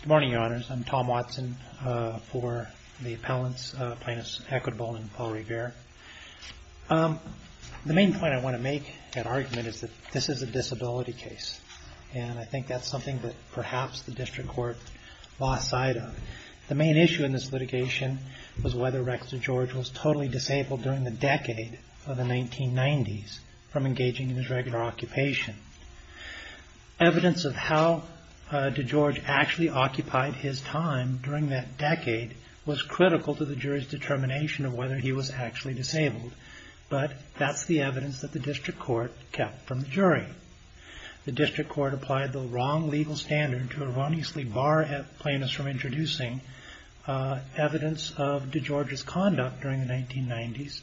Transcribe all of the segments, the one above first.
Good morning, Your Honors. I'm Tom Watson for the Appellants, Plaintiffs Equitable and Paul Revere. The main point I want to make in that argument is that this is a disability case. And I think that's something that perhaps the District Court lost sight of. The main issue in this litigation was whether Rex DeGeorge was totally disabled during the decade of the 1990s from engaging in his regular occupation. Evidence of how DeGeorge actually occupied his time during that decade was critical to the jury's determination of whether he was actually disabled. But that's the evidence that the District Court kept from the jury. The District Court applied the wrong legal standard to erroneously bar plaintiffs from introducing evidence of DeGeorge's conduct during the 1990s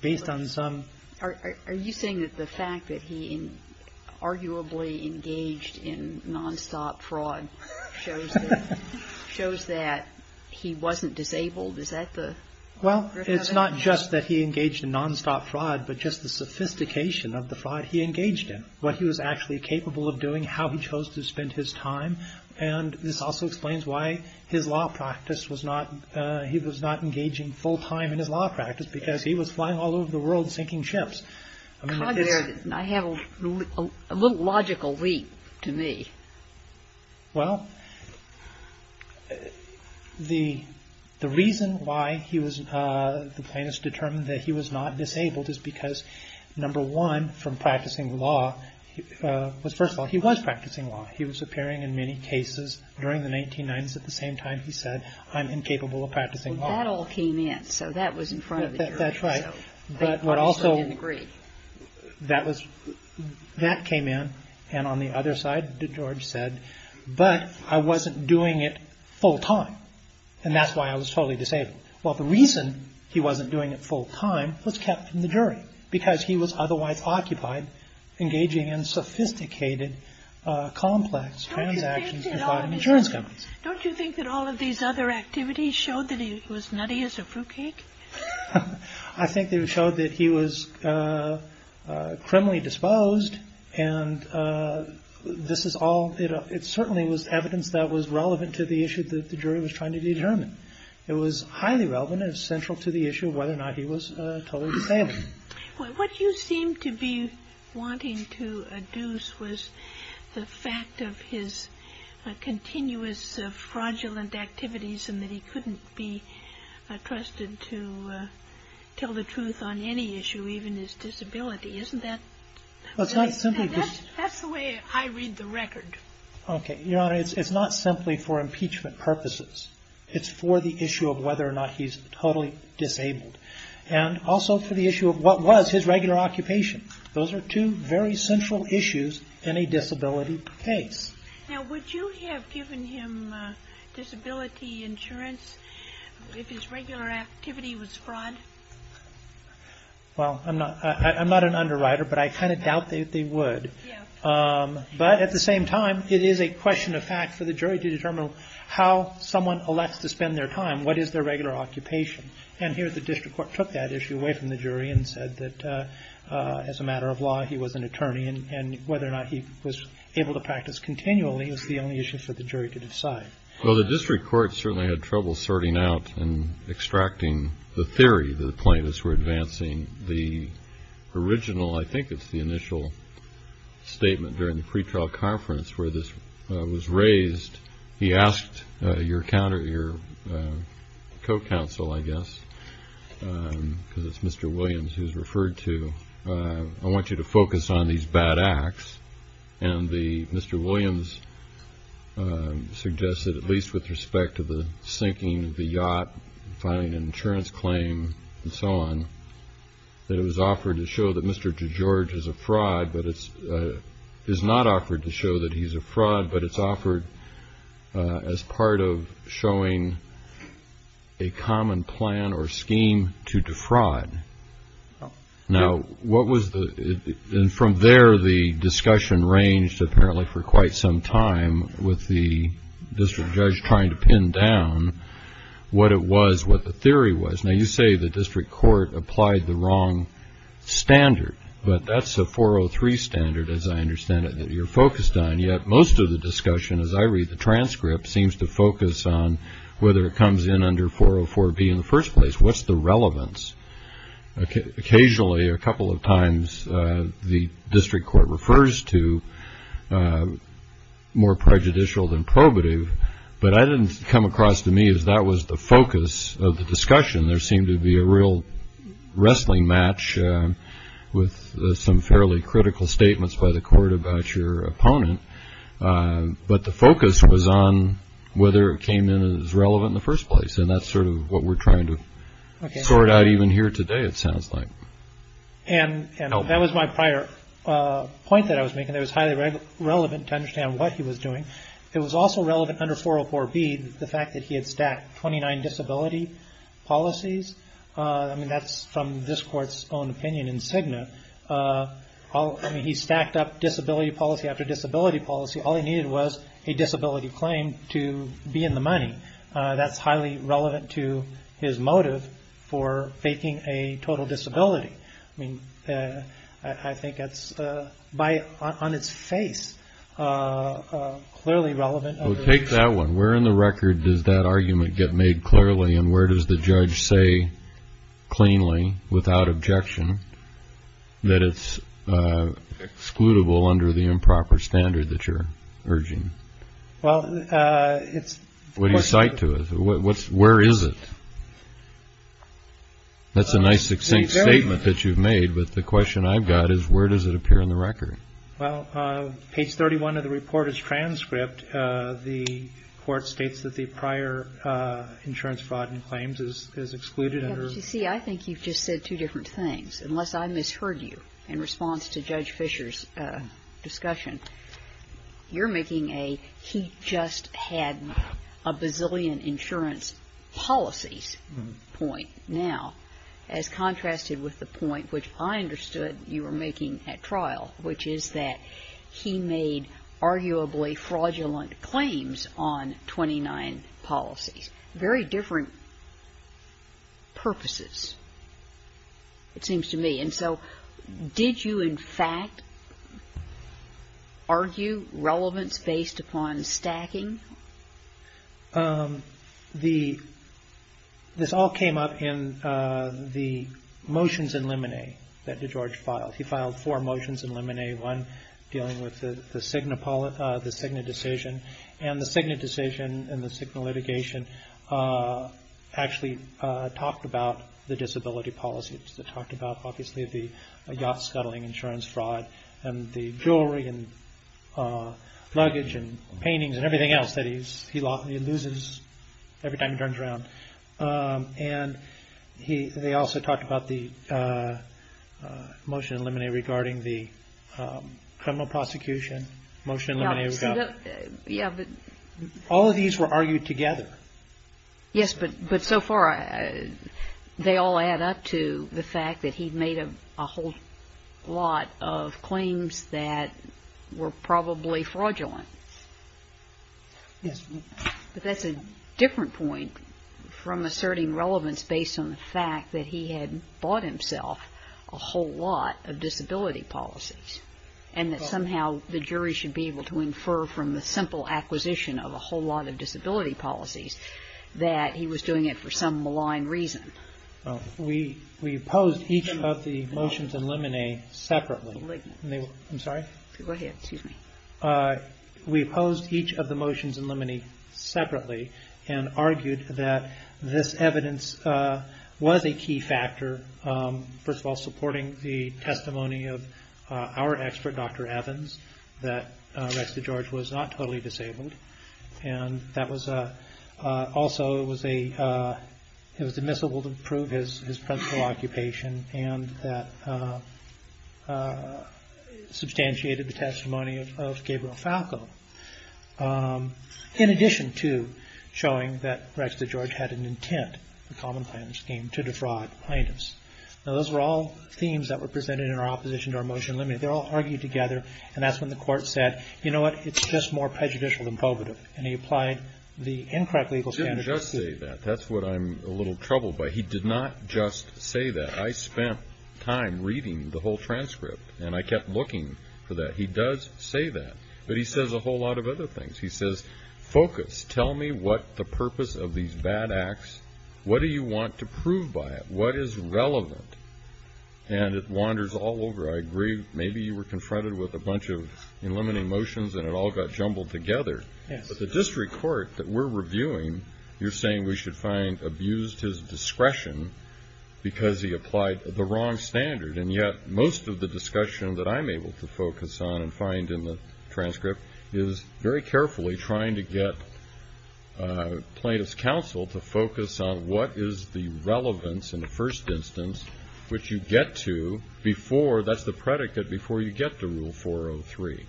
based on some... Are you saying that the fact that he arguably engaged in nonstop fraud shows that he wasn't disabled? Well, it's not just that he engaged in nonstop fraud, but just the sophistication of the fraud he engaged in. What he was actually capable of doing, how he chose to spend his time. And this also explains why his law practice was not... I have a little logical leap to me. Well, the reason why the plaintiffs determined that he was not disabled is because, number one, from practicing law... First of all, he was practicing law. He was appearing in many cases during the 1990s at the same time he said, I'm incapable of practicing law. That's right. But what also... They obviously didn't agree. That came in. And on the other side, DeGeorge said, but I wasn't doing it full time. And that's why I was totally disabled. Well, the reason he wasn't doing it full time was kept from the jury, because he was otherwise occupied engaging in sophisticated, complex transactions involving insurance companies. Don't you think that all of these other activities showed that he was nutty as a fruitcake? I think they showed that he was criminally disposed, and this is all... It certainly was evidence that was relevant to the issue that the jury was trying to determine. It was highly relevant and central to the issue of whether or not he was totally disabled. What you seem to be wanting to adduce was the fact of his continuous fraudulent activities and that he couldn't be trusted to tell the truth on any issue, even his disability. Isn't that... Well, it's not simply... That's the way I read the record. Okay. Your Honor, it's not simply for impeachment purposes. It's for the issue of whether or not he's totally disabled. And also for the issue of what was his regular occupation. Those are two very central issues in a disability case. Now, would you have given him disability insurance if his regular activity was fraud? Well, I'm not an underwriter, but I kind of doubt that they would. Yeah. But at the same time, it is a question of fact for the jury to determine how someone elects to spend their time, what is their regular occupation. And here the district court took that issue away from the jury and said that as a matter of law he was an attorney and whether or not he was able to practice continually was the only issue for the jury to decide. Well, the district court certainly had trouble sorting out and extracting the theory that the plaintiffs were advancing the original. I think it's the initial statement during the pretrial conference where this was raised. He asked your co-counsel, I guess, because it's Mr. Williams who's referred to, I want you to focus on these bad acts. And Mr. Williams suggested, at least with respect to the sinking of the yacht, filing an insurance claim and so on, that it was offered to show that Mr. DeGeorge is a fraud, but it's not offered to show that he's a fraud, but it's offered as part of showing a common plan or scheme to defraud. Now, what was the – and from there the discussion ranged, apparently, for quite some time with the district judge trying to pin down what it was, what the theory was. Now, you say the district court applied the wrong standard, but that's a 403 standard, as I understand it, that you're focused on. Yet most of the discussion, as I read the transcript, seems to focus on whether it comes in under 404B in the first place. What's the relevance? Occasionally, a couple of times, the district court refers to more prejudicial than probative, but I didn't come across to me as that was the focus of the discussion. There seemed to be a real wrestling match with some fairly critical statements by the court about your opponent, but the focus was on whether it came in as relevant in the first place, and that's sort of what we're trying to sort out even here today, it sounds like. And that was my prior point that I was making. It was highly relevant to understand what he was doing. It was also relevant under 404B, the fact that he had stacked 29 disability policies. That's from this court's own opinion in Cigna. He stacked up disability policy after disability policy. All he needed was a disability claim to be in the money. That's highly relevant to his motive for faking a total disability. I think that's on its face clearly relevant. Take that one. Where in the record does that argument get made clearly, and where does the judge say cleanly, without objection, that it's excludable under the improper standard that you're urging? Well, it's. What do you cite to it? Where is it? That's a nice, succinct statement that you've made, but the question I've got is where does it appear in the record? Well, page 31 of the report is transcript. The court states that the prior insurance fraud and claims is excluded under. Yeah, but you see, I think you've just said two different things. Unless I misheard you in response to Judge Fisher's discussion, you're making a he just had a bazillion insurance policies point. Now, as contrasted with the point which I understood you were making at trial, which is that he made arguably fraudulent claims on 29 policies. Very different purposes, it seems to me. And so did you, in fact, argue relevance based upon stacking? This all came up in the motions in limine that DeGeorge filed. He filed four motions in limine, one dealing with the Cigna decision, and the Cigna decision and the Cigna litigation actually talked about the disability policies. It talked about obviously the yacht scuttling insurance fraud and the jewelry and luggage and paintings and everything else that he loses every time he turns around. And they also talked about the motion in limine regarding the criminal prosecution motion in limine. Yeah, but. All of these were argued together. Yes, but so far they all add up to the fact that he made a whole lot of claims that were probably fraudulent. Yes. But that's a different point from asserting relevance based on the fact that he had bought himself a whole lot of disability policies and that somehow the jury should be able to infer from the simple acquisition of a whole lot of disability policies that he was doing it for some malign reason. We opposed each of the motions in limine separately. I'm sorry? Go ahead, excuse me. We opposed each of the motions in limine separately and argued that this evidence was a key factor, first of all, supporting the testimony of our expert, Dr. Evans, that Rex DeGeorge was not totally disabled. And that also was admissible to prove his principal occupation and that substantiated the testimony of Gabriel Falco. In addition to showing that Rex DeGeorge had an intent, a common plan scheme, to defraud plaintiffs. Now, those were all themes that were presented in our opposition to our motion in limine. They're all argued together, and that's when the court said, you know what, it's just more prejudicial than probative. And he applied the incorrect legal standards of the suit. He didn't just say that. That's what I'm a little troubled by. He did not just say that. I spent time reading the whole transcript, and I kept looking for that. He does say that, but he says a whole lot of other things. He says, focus, tell me what the purpose of these bad acts, what do you want to prove by it, what is relevant? And it wanders all over. I agree, maybe you were confronted with a bunch of in limine motions and it all got jumbled together. But the district court that we're reviewing, you're saying we should find abused his discretion because he applied the wrong standard. And yet most of the discussion that I'm able to focus on and find in the transcript is very carefully trying to get plaintiffs' counsel to focus on what is the relevance in the first instance, which you get to before, that's the predicate, before you get to Rule 403.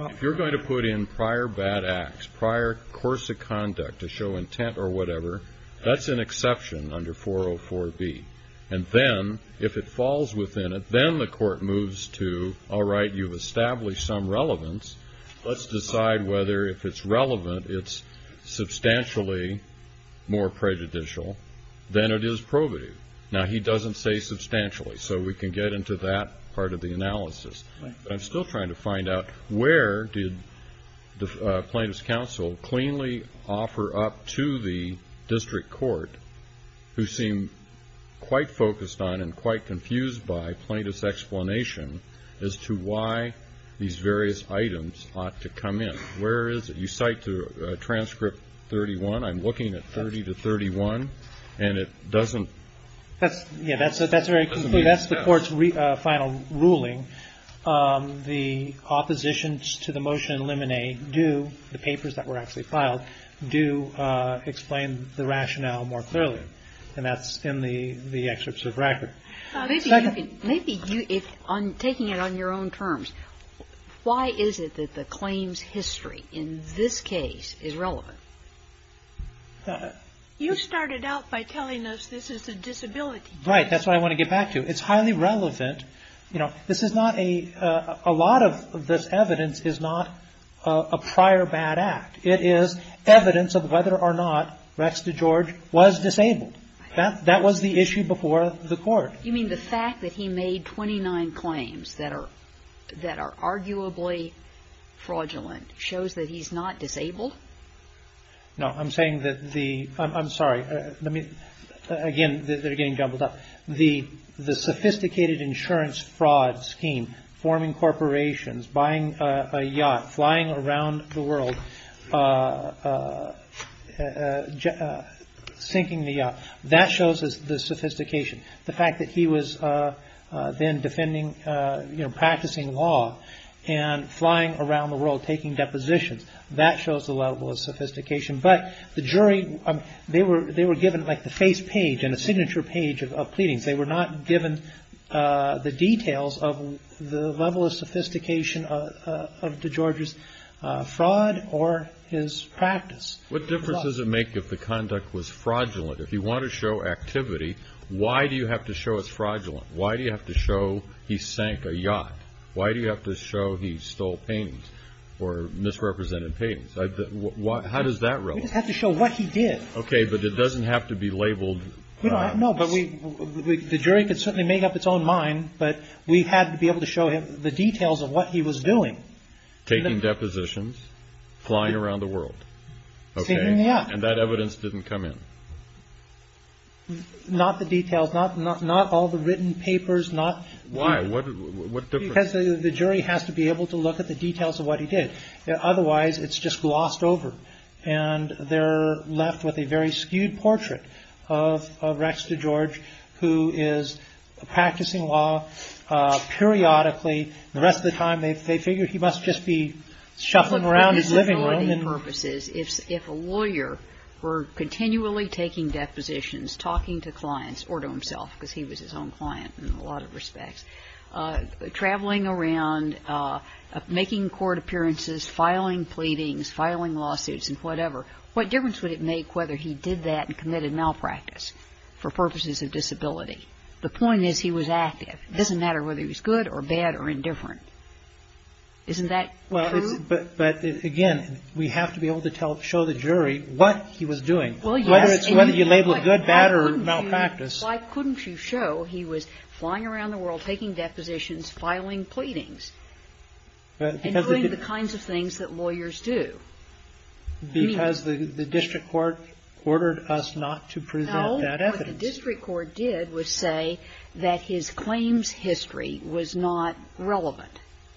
If you're going to put in prior bad acts, prior course of conduct to show intent or whatever, that's an exception under 404B. And then if it falls within it, then the court moves to, all right, you've established some relevance. Let's decide whether if it's relevant, it's substantially more prejudicial than it is probative. Now, he doesn't say substantially, so we can get into that part of the analysis. But I'm still trying to find out where did the plaintiffs' counsel cleanly offer up to the district court who seem quite focused on and quite confused by plaintiffs' explanation as to why these various items ought to come in. Where is it? You cite transcript 31. I'm looking at 30 to 31, and it doesn't. That's the court's final ruling. The oppositions to the motion in limine do, the papers that were actually filed, do explain the rationale more clearly. And that's in the excerpts of the record. Maybe taking it on your own terms, why is it that the claims history in this case is relevant? You started out by telling us this is a disability case. Right. That's what I want to get back to. It's highly relevant. You know, this is not a, a lot of this evidence is not a prior bad act. It is evidence of whether or not Rex DeGeorge was disabled. That was the issue before the court. You mean the fact that he made 29 claims that are, that are arguably fraudulent shows that he's not disabled? No. I'm saying that the, I'm sorry. Let me, again, they're getting jumbled up. The, the sophisticated insurance fraud scheme, forming corporations, buying a yacht, flying around the world, sinking the yacht, that shows the sophistication. The fact that he was then defending, you know, practicing law and flying around the world, taking depositions, that shows the level of sophistication. But the jury, they were, they were given like the face page and a signature page of pleadings. They were not given the details of the level of sophistication of DeGeorge's fraud or his practice. What difference does it make if the conduct was fraudulent? If you want to show activity, why do you have to show it's fraudulent? Why do you have to show he sank a yacht? Why do you have to show he stole paintings or misrepresented paintings? How does that relate? We just have to show what he did. Okay. But it doesn't have to be labeled. No. But we, the jury could certainly make up its own mind, but we had to be able to show him the details of what he was doing. Taking depositions, flying around the world. Okay. Sinking the yacht. And that evidence didn't come in. Not the details. Not all the written papers. Why? What difference? Because the jury has to be able to look at the details of what he did. Otherwise, it's just glossed over. And they're left with a very skewed portrait of Rex DeGeorge, who is practicing law periodically. The rest of the time, they figure he must just be shuffling around his living room. But for disability purposes, if a lawyer were continually taking depositions, talking to clients or to himself, because he was his own client in a lot of respects, traveling around, making court appearances, filing pleadings, filing lawsuits and whatever, what difference would it make whether he did that and committed malpractice for purposes of disability? The point is he was active. It doesn't matter whether he was good or bad or indifferent. Isn't that true? But, again, we have to be able to show the jury what he was doing. Whether you label it good, bad, or malpractice. Why couldn't you show he was flying around the world, taking depositions, filing pleadings, and doing the kinds of things that lawyers do? Because the district court ordered us not to present that evidence. What the district court did was say that his claims history was not relevant.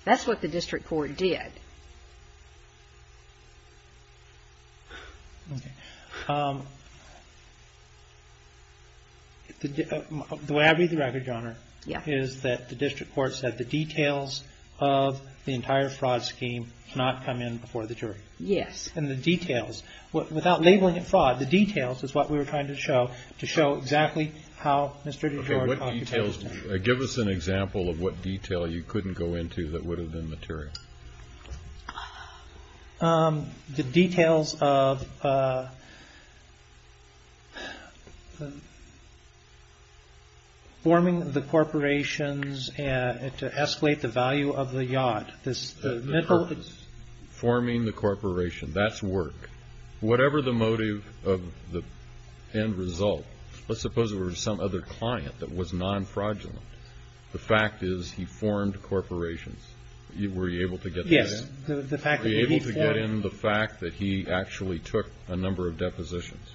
That's what the district court did. The way I read the record, Your Honor, is that the district court said the details of the entire fraud scheme cannot come in before the jury. Yes. In the details. Without labeling it fraud, the details is what we were trying to show, to show exactly how Mr. DeGiorgio. What details? Give us an example of what detail you couldn't go into that would have been material. The details of forming the corporations to escalate the value of the yacht. Forming the corporation. That's work. Whatever the motive of the end result, let's suppose it were some other client that was non-fraudulent. The fact is he formed corporations. Were you able to get that in? Yes. Were you able to get in the fact that he actually took a number of depositions?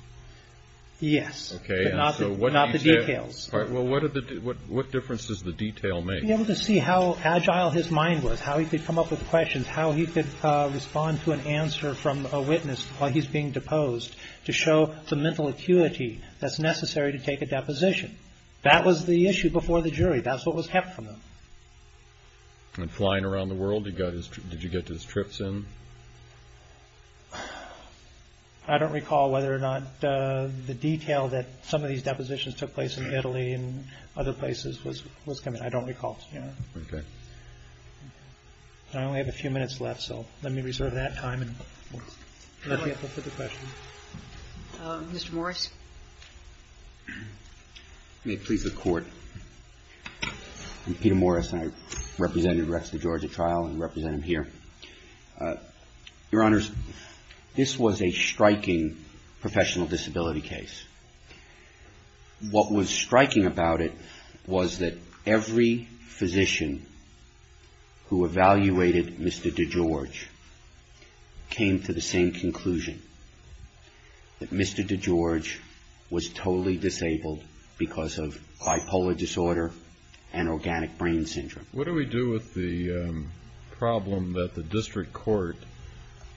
Yes. Okay. But not the details. All right. Well, what difference does the detail make? To be able to see how agile his mind was, how he could come up with questions, how he could respond to an answer from a witness while he's being deposed, to show the mental acuity that's necessary to take a deposition. That was the issue before the jury. That's what was kept from him. And flying around the world, did you get his trips in? I don't recall whether or not the detail that some of these depositions took place in Italy and other places was coming. I don't recall. Okay. I only have a few minutes left, so let me reserve that time and let me look at the questions. Mr. Morris. May it please the Court. I'm Peter Morris, and I represented Rex the George at trial and represent him here. Your Honors, this was a striking professional disability case. What was striking about it was that every physician who evaluated Mr. DeGeorge came to the same conclusion, that Mr. DeGeorge was totally disabled because of bipolar disorder and organic brain syndrome. What do we do with the problem that the district court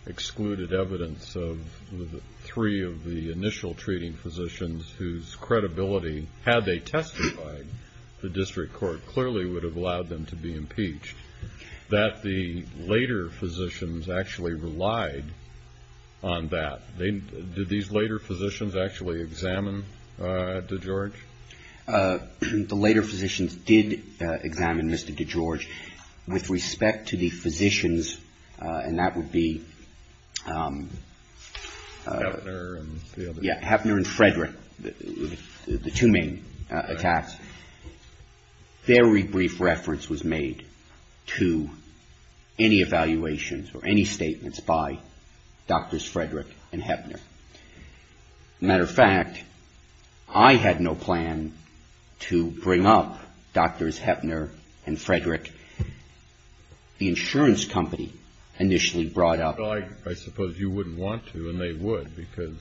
excluded evidence of three of the initial treating physicians whose credibility, had they testified, the district court clearly would have allowed them to be impeached, that the later physicians actually relied on that? Did these later physicians actually examine DeGeorge? The later physicians did examine Mr. DeGeorge. With respect to the physicians, and that would be Hefner and Frederick, the two main attacks, very brief reference was made to any evaluations or any statements by Drs. Frederick and Hefner. As a matter of fact, I had no plan to bring up Drs. Hefner and Frederick. The insurance company initially brought up them. Well, I suppose you wouldn't want to, and they would, because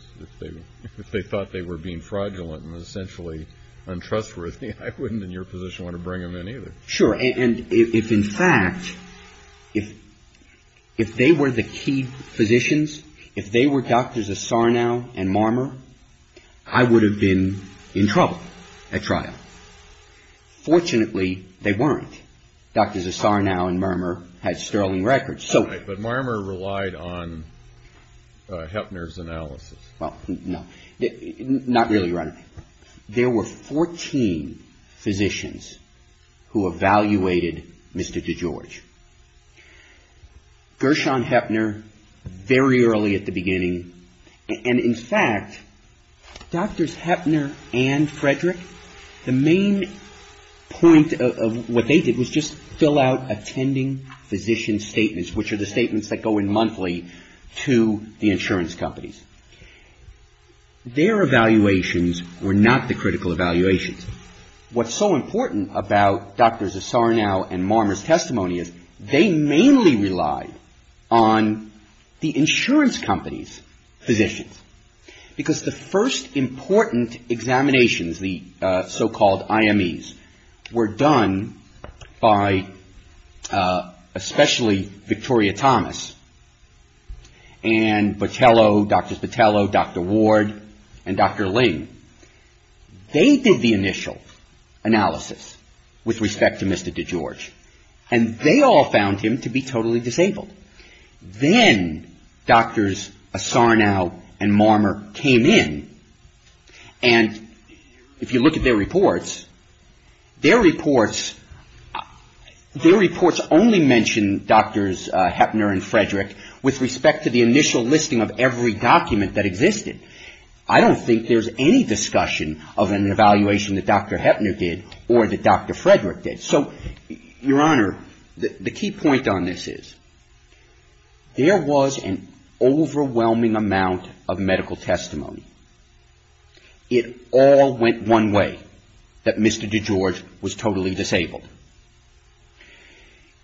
if they thought they were being fraudulent and essentially untrustworthy, I wouldn't in your position want to bring them in either. Sure, and if in fact, if they were the key physicians, if they were Drs. Asarnow and Marmer, I would have been in trouble at trial. Fortunately, they weren't. Drs. Asarnow and Marmer had sterling records. But Marmer relied on Hefner's analysis. Well, no, not really. There were 14 physicians who evaluated Mr. DeGeorge. Gershon Hefner very early at the beginning, and in fact, Drs. Hefner and Frederick, the main point of what they did was just fill out attending physician statements, which are the statements that go in monthly to the insurance companies. Their evaluations were not the critical evaluations. What's so important about Drs. Asarnow and Marmer's testimony is they mainly relied on the insurance companies' physicians, because the first important examinations, the so-called IMEs, were done by especially Victoria Thomas and Botello, Drs. Botello, Dr. Ward, and Dr. Ling. They did the initial analysis with respect to Mr. DeGeorge, and they all found him to be totally disabled. Then Drs. Asarnow and Marmer came in, and if you look at their reports, their reports only mention Drs. Hefner and Frederick with respect to the initial listing of every document that existed. I don't think there's any discussion of an evaluation that Dr. Hefner did or that Dr. Frederick did. So, Your Honor, the key point on this is there was an overwhelming amount of medical testimony. It all went one way, that Mr. DeGeorge was totally disabled.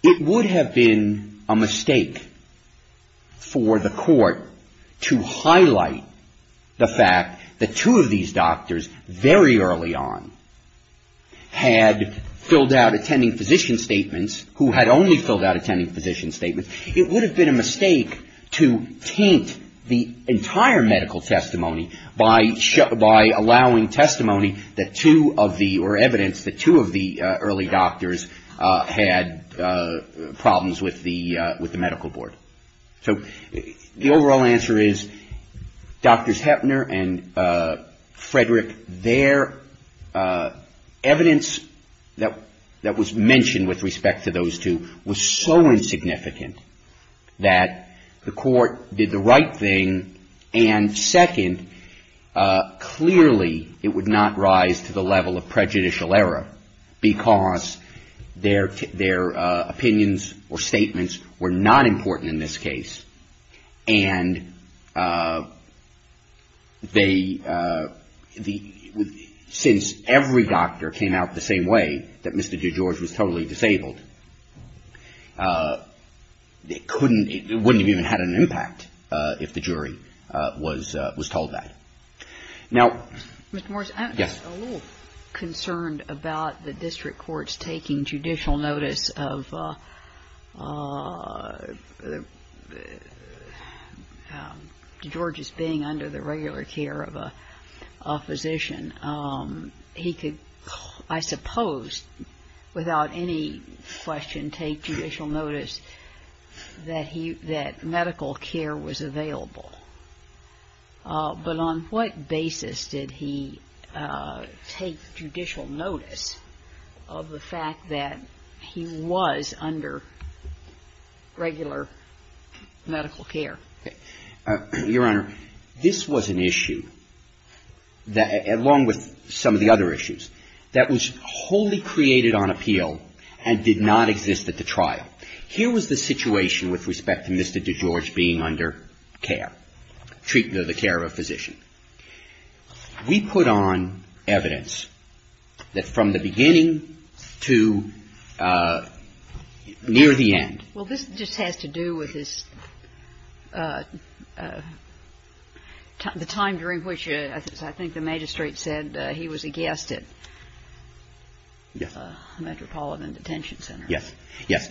It would have been a mistake for the Court to highlight the fact that two of these doctors, very early on, had filled out attending physician statements, who had only filled out attending physician statements. It would have been a mistake to taint the entire medical testimony by allowing testimony that two of the, or evidence that two of the early doctors had problems with the medical board. So, the overall answer is Drs. Hefner and Frederick, their evidence that was mentioned with respect to those two was so insignificant that the Court did the right thing. And second, clearly it would not rise to the level of prejudicial error because their opinions or statements were not important in this case. And they, since every doctor came out the same way, that Mr. DeGeorge was totally disabled, it couldn't, it wouldn't have even had an impact if the jury was told that. Ms. Morris, I'm just a little concerned about the district courts taking judicial notice of DeGeorge's being under the regular care of a physician. He could, I suppose, without any question, take judicial notice that medical care was available. But on what basis did he take judicial notice of the fact that he was under regular medical care? Your Honor, this was an issue that, along with some of the other issues, that was wholly created on appeal and did not exist at the trial. Here was the situation with respect to Mr. DeGeorge being under care, treatment of the care of a physician. We put on evidence that from the beginning to near the end. Well, this just has to do with his, the time during which, as I think the magistrate said, he was a guest at Metropolitan Detention Center. Yes.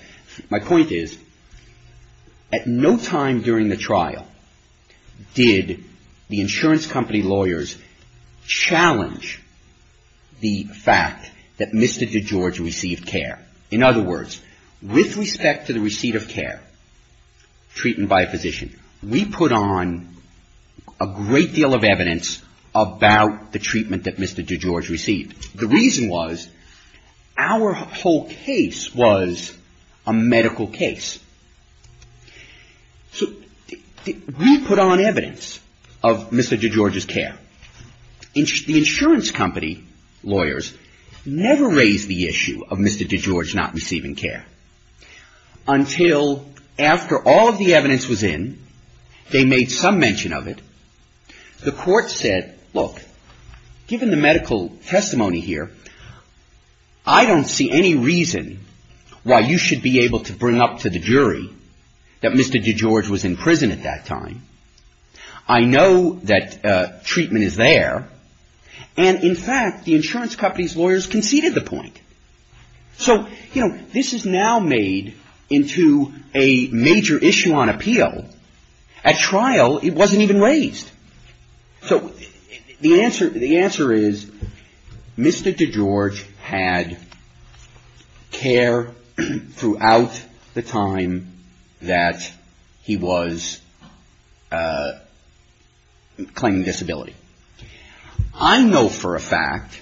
My point is, at no time during the trial did the insurance company lawyers challenge the fact that Mr. DeGeorge received care. In other words, with respect to the receipt of care, treatment by a physician, we put on a great deal of evidence about the treatment that Mr. DeGeorge received. The reason was, our whole case was a medical case. So we put on evidence of Mr. DeGeorge's care. The insurance company lawyers never raised the issue of Mr. DeGeorge not receiving care. Until after all of the evidence was in, they made some mention of it, the court said, look, given the medical testimony here, I don't see any reason why you should be able to bring up to the jury that Mr. DeGeorge was in prison at that time. I know that treatment is there. And, in fact, the insurance company's lawyers conceded the point. So, you know, this is now made into a major issue on appeal. At trial, it wasn't even raised. So the answer is, Mr. DeGeorge had care throughout the time that he was claiming disability. I know for a fact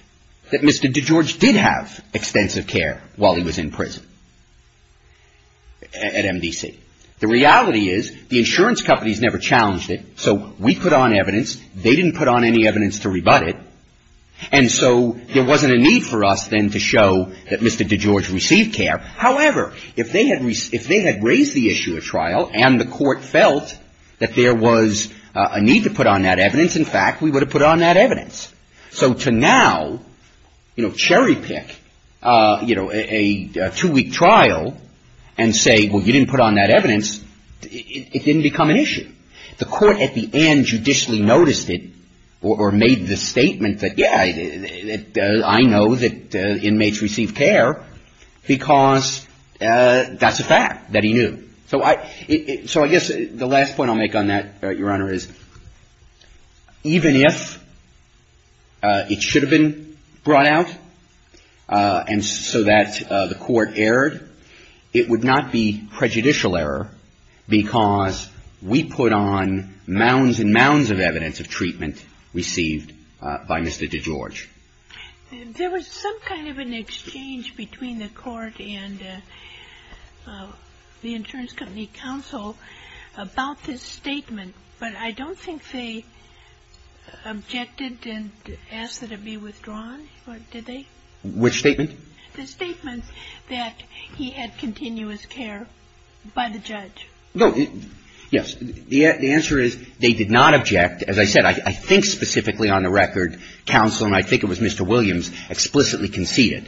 that Mr. DeGeorge did have extensive care while he was in prison at MDC. The reality is, the insurance companies never challenged it. So we put on evidence. They didn't put on any evidence to rebut it. And so there wasn't a need for us then to show that Mr. DeGeorge received care. However, if they had raised the issue at trial and the court felt that there was a need to put on that evidence, in fact, we would have put on that evidence. So to now, you know, cherry pick, you know, a two-week trial and say, well, you didn't put on that evidence, it didn't become an issue. The court at the end judicially noticed it or made the statement that, yeah, I know that inmates received care because that's a fact that he knew. So I guess the last point I'll make on that, Your Honor, is even if it should have been brought out and so that the court erred, it would not be prejudicial error because we put on mounds and mounds of evidence of treatment received by Mr. DeGeorge. There was some kind of an exchange between the court and the insurance company counsel about this statement. But I don't think they objected and asked that it be withdrawn. Did they? Which statement? The statement that he had continuous care by the judge. No, yes. The answer is they did not object. As I said, I think specifically on the record, counsel, and I think it was Mr. Williams, explicitly conceded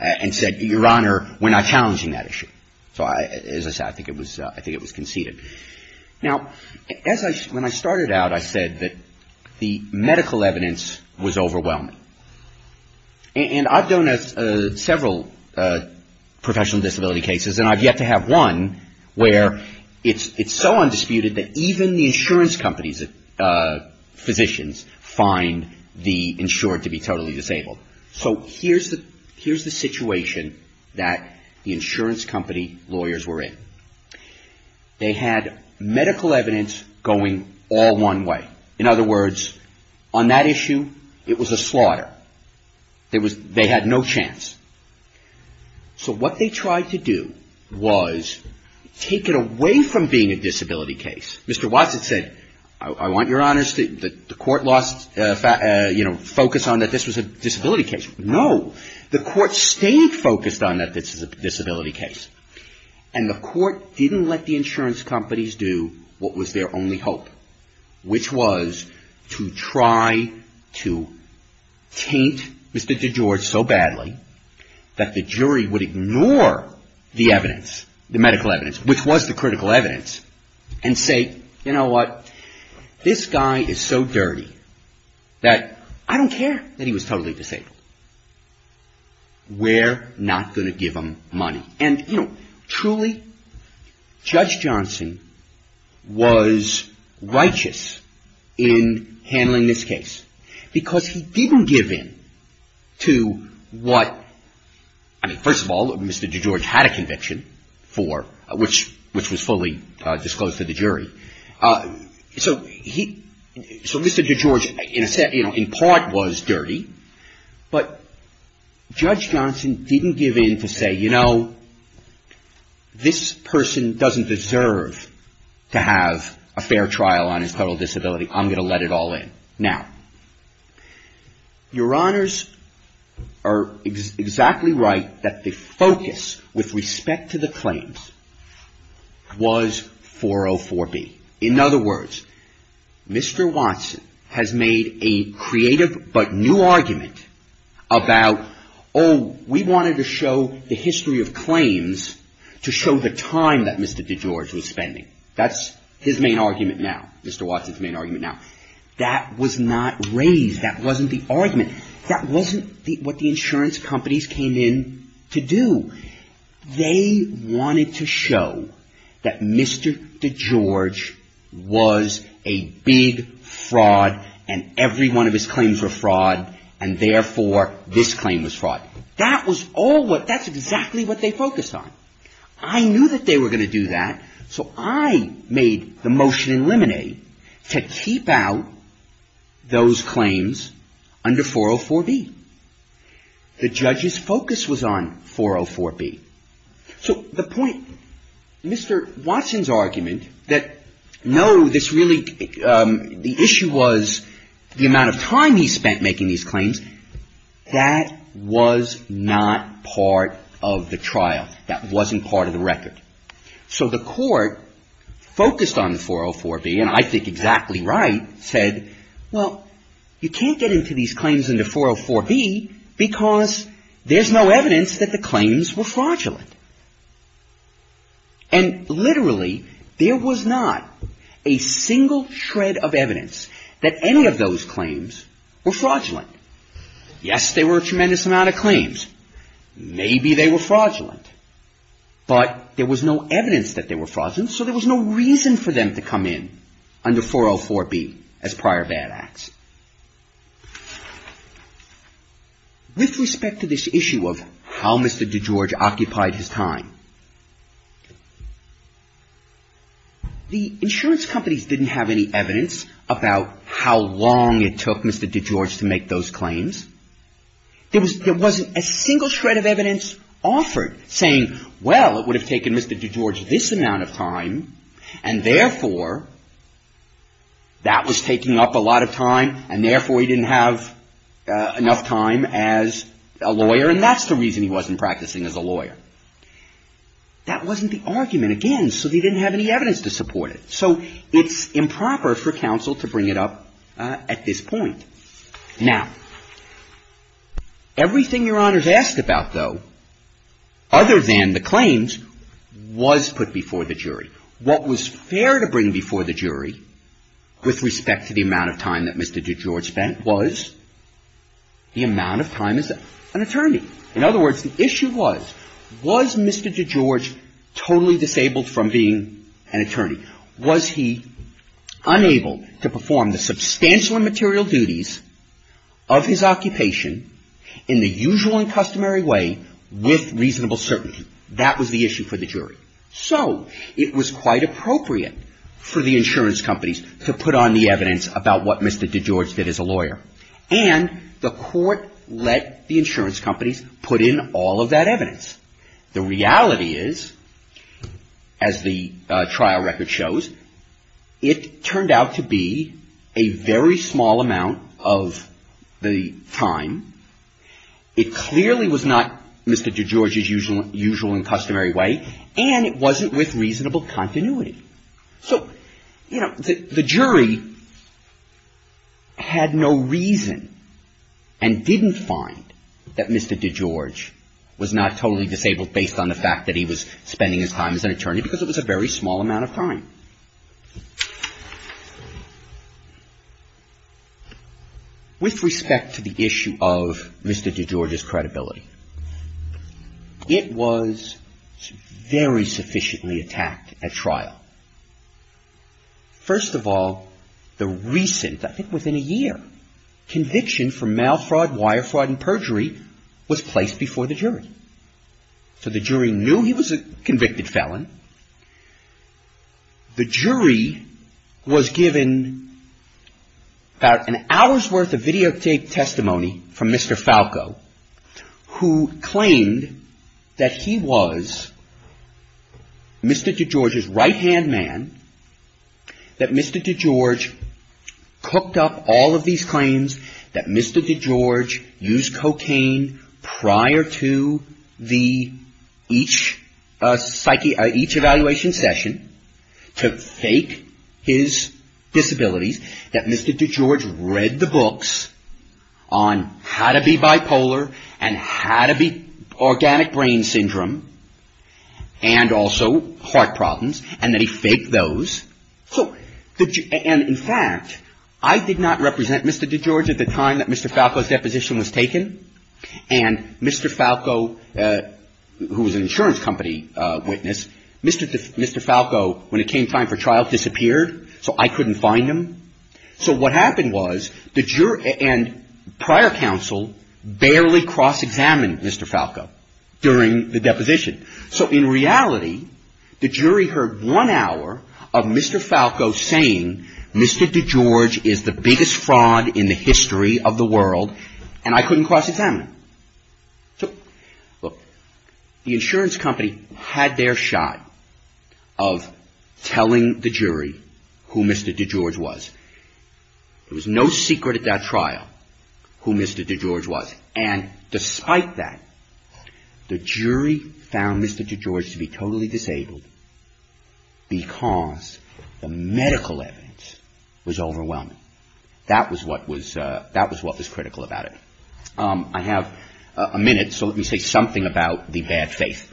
and said, Your Honor, we're not challenging that issue. So as I said, I think it was conceded. Now, when I started out, I said that the medical evidence was overwhelming. And I've done several professional disability cases and I've yet to have one where it's so undisputed that even the insurance company's physicians find the insured to be totally disabled. So here's the situation that the insurance company lawyers were in. They had medical evidence going all one way. In other words, on that issue, it was a slaughter. They had no chance. So what they tried to do was take it away from being a disability case. Mr. Watson said, I want Your Honors to, the court lost, you know, focus on that this was a disability case. No. The court stayed focused on that this is a disability case. And the court didn't let the insurance companies do what was their only hope. Which was to try to taint Mr. DeGeorge so badly that the jury would ignore the evidence, the medical evidence, which was the critical evidence, and say, you know what, this guy is so dirty that I don't care that he was totally disabled. We're not going to give him money. And, you know, truly, Judge Johnson was righteous in handling this case. Because he didn't give in to what, I mean, first of all, Mr. DeGeorge had a conviction for, which was fully disclosed to the jury. So Mr. DeGeorge, in part, was dirty. But Judge Johnson didn't give in to say, you know, this person doesn't deserve to have a fair trial on his total disability. I'm going to let it all in. Now, Your Honors are exactly right that the focus, with respect to the claims, was 404B. In other words, Mr. Watson has made a creative but new argument about, oh, we wanted to show the history of claims to show the time that Mr. DeGeorge was spending. That's his main argument now. Mr. Watson's main argument now. That was not raised. That wasn't the argument. That wasn't what the insurance companies came in to do. They wanted to show that Mr. DeGeorge was a big fraud, and every one of his claims were fraud, and therefore, this claim was fraud. That was all what, that's exactly what they focused on. I knew that they were going to do that, so I made the motion in limine to keep out those claims under 404B. The judge's focus was on 404B. So the point, Mr. Watson's argument that no, this really, the issue was the amount of time he spent making these claims, that was not part of the trial. That wasn't part of the record. So the court focused on the 404B, and I think exactly right, said, well, you can't get into these claims under 404B because there's no evidence that the claims were fraudulent. And literally, there was not a single shred of evidence that any of those claims were fraudulent. Yes, there were a tremendous amount of claims. Maybe they were fraudulent, but there was no evidence that they were fraudulent, so there was no reason for them to come in under 404B as prior bad acts. With respect to this issue of how Mr. DeGeorge occupied his time, the insurance companies didn't have any evidence about how long it took Mr. DeGeorge to make those claims. There wasn't a single shred of evidence offered saying, well, it would have taken Mr. DeGeorge this amount of time, and therefore, that was taking up a lot of time, and therefore, he didn't have enough time as a lawyer, and that's the reason he wasn't practicing as a lawyer. That wasn't the argument, again, so they didn't have any evidence to support it. So it's improper for counsel to bring it up at this point. Now, everything Your Honors asked about, though, other than the claims, was put before the jury. What was fair to bring before the jury with respect to the amount of time that Mr. DeGeorge spent was the amount of time as an attorney. In other words, the issue was, was Mr. DeGeorge totally disabled from being an attorney? Was he unable to perform the substantial and material duties of his occupation in the usual and customary way with reasonable certainty? That was the issue for the jury. So it was quite appropriate for the insurance companies to put on the evidence about what Mr. DeGeorge did as a lawyer, and the court let the insurance companies put in all of that evidence. The reality is, as the trial record shows, it turned out to be a very small amount of the time. It clearly was not Mr. DeGeorge's usual and customary way, and it wasn't with reasonable continuity. So, you know, the jury had no reason and didn't find that Mr. DeGeorge was not totally disabled based on the fact that he was spending his time as an attorney because it was a very small amount of time. With respect to the issue of Mr. DeGeorge's credibility, it was very sufficiently attacked at trial. First of all, the recent, I think within a year, conviction for mail fraud, wire fraud and perjury was placed before the jury. So the jury knew he was a convicted felon. The jury was given about an hour's worth of videotaped testimony from Mr. Falco, who claimed that he was Mr. DeGeorge's right-hand man, that Mr. DeGeorge cooked up all of these claims, that Mr. DeGeorge used cocaine prior to each evaluation session to fake his disabilities, that Mr. DeGeorge read the books on how to be bipolar and how to be organic brain syndrome and also heart problems, and that he faked those. So, and in fact, I did not represent Mr. DeGeorge at the time that Mr. Falco's deposition was taken. And Mr. Falco, who was an insurance company witness, Mr. Falco, when it came time for trial, disappeared, so I couldn't find him. So what happened was the jury and prior counsel barely cross-examined Mr. Falco during the deposition. So in reality, the jury heard one hour of Mr. Falco saying, Mr. DeGeorge is the biggest fraud in the history of the world, and I couldn't cross-examine him. So, look, the insurance company had their shot of telling the jury who Mr. DeGeorge was. There was no secret at that trial who Mr. DeGeorge was, and despite that, the jury found Mr. DeGeorge to be totally disabled because the medical evidence was overwhelming. That was what was critical about it. I have a minute, so let me say something about the bad faith.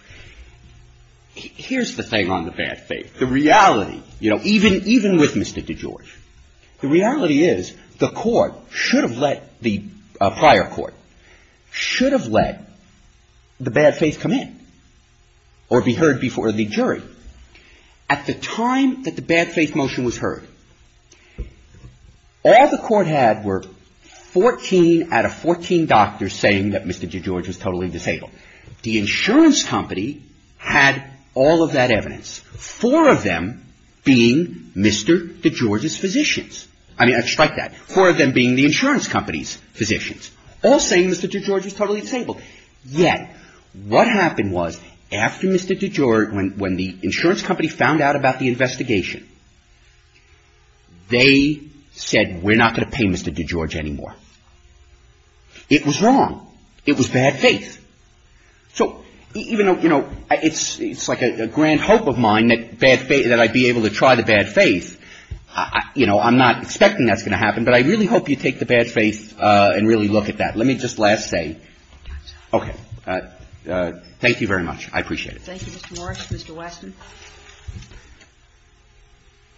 Here's the thing on the bad faith. The reality, you know, even with Mr. DeGeorge, the reality is the court should have let the prior court, should have let the bad faith come in or be heard before the jury. At the time that the bad faith motion was heard, all the court had were 14 out of 14 doctors saying that Mr. DeGeorge was totally disabled. The insurance company had all of that evidence, four of them being Mr. DeGeorge's physicians. I mean, despite that, four of them being the insurance company's physicians, all saying Mr. DeGeorge was totally disabled. Yet, what happened was, after Mr. DeGeorge, when the insurance company found out about the investigation, they said, we're not going to pay Mr. DeGeorge anymore. It was wrong. It was bad faith. So even though, you know, it's like a grand hope of mine that I'd be able to try the bad faith, you know, I'm not expecting that's going to happen, but I really hope you take the bad faith and really look at that. Let me just last say. Okay. Thank you very much. I appreciate it. Thank you, Mr. Morris. Mr. Weston.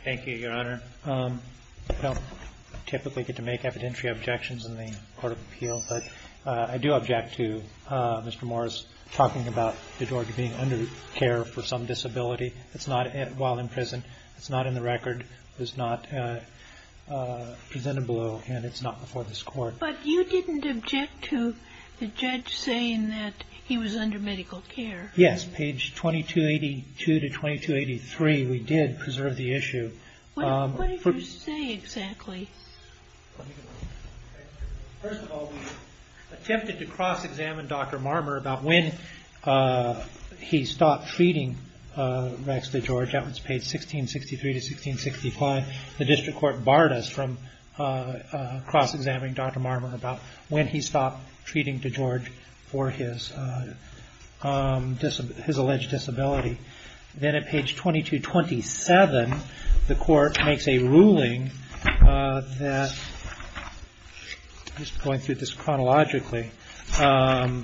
Thank you, Your Honor. I don't typically get to make evidentiary objections in the court of appeal, but I do object to Mr. Morris talking about DeGeorge being under care for some disability while in prison. It's not in the record. It was not presented below, and it's not before this Court. But you didn't object to the judge saying that he was under medical care. Yes. Page 2282 to 2283, we did preserve the issue. What did you say exactly? First of all, we attempted to cross-examine Dr. Marmer about when he stopped treating Rex DeGeorge. That was page 1663 to 1665. The district court barred us from cross-examining Dr. Marmer about when he stopped treating DeGeorge for his alleged disability. Then at page 2227, the court makes a ruling that, just going through this chronologically, that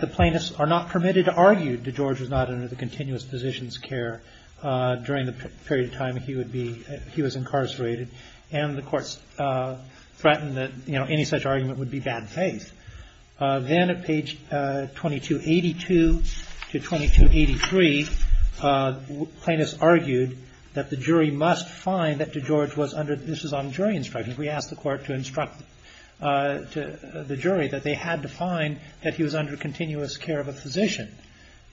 the plaintiffs are not permitted to argue DeGeorge was not under the continuous physician's care during the period of time he was incarcerated, and the courts threatened that any such argument would be bad faith. Then at page 2282 to 2283, plaintiffs argued that the jury must find that DeGeorge was under – this is on jury instruction. We asked the court to instruct the jury that they had to find that he was under continuous care of a physician,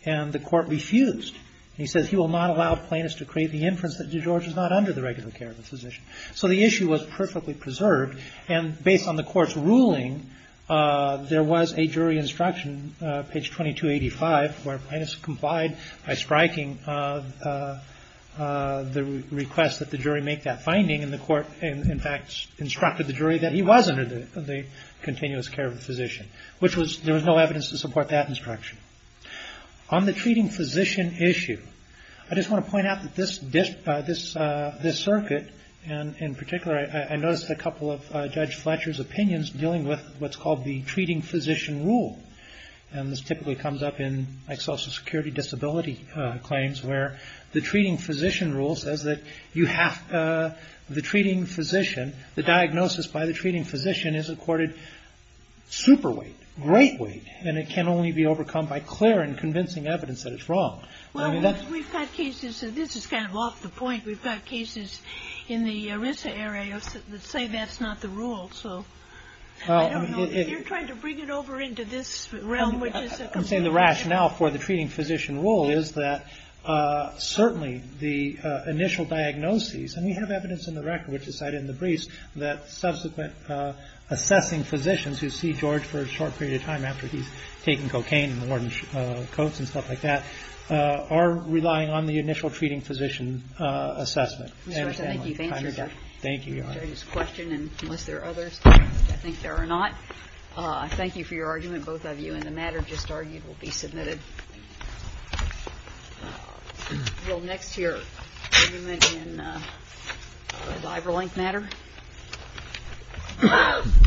and the court refused. He says he will not allow plaintiffs to create the inference that DeGeorge was not under the regular care of a physician. So the issue was perfectly preserved, and based on the court's ruling, there was a jury instruction, page 2285, where plaintiffs complied by striking the request that the jury make that finding, and the court, in fact, instructed the jury that he was under the continuous care of a physician, which was – there was no evidence to support that instruction. On the treating physician issue, I just want to point out that this circuit, and in particular, I noticed a couple of Judge Fletcher's opinions dealing with what's called the treating physician rule, and this typically comes up in, like, social security disability claims, where the treating physician rule says that you have – the treating physician – the diagnosis by the treating physician is accorded super weight, great weight, and it can only be overcome by clear and convincing evidence that it's wrong. Well, we've got cases – this is kind of off the point – we've got cases in the ERISA area that say that's not the rule, so I don't know. If you're trying to bring it over into this realm, which is a completely different – I'm saying the rationale for the treating physician rule is that, certainly, the initial diagnoses – and we have evidence in the record, which is cited in the briefs, that subsequent assessing physicians who see George for a short period of time after he's taken cocaine and worn coats and stuff like that are relying on the initial treating physician assessment. Ms. Fletcher, I think you've answered this question, and unless there are others, I think there are not. Thank you for your argument, both of you, and the matter just argued will be submitted. We'll go next to your argument in the liver length matter. Thank you.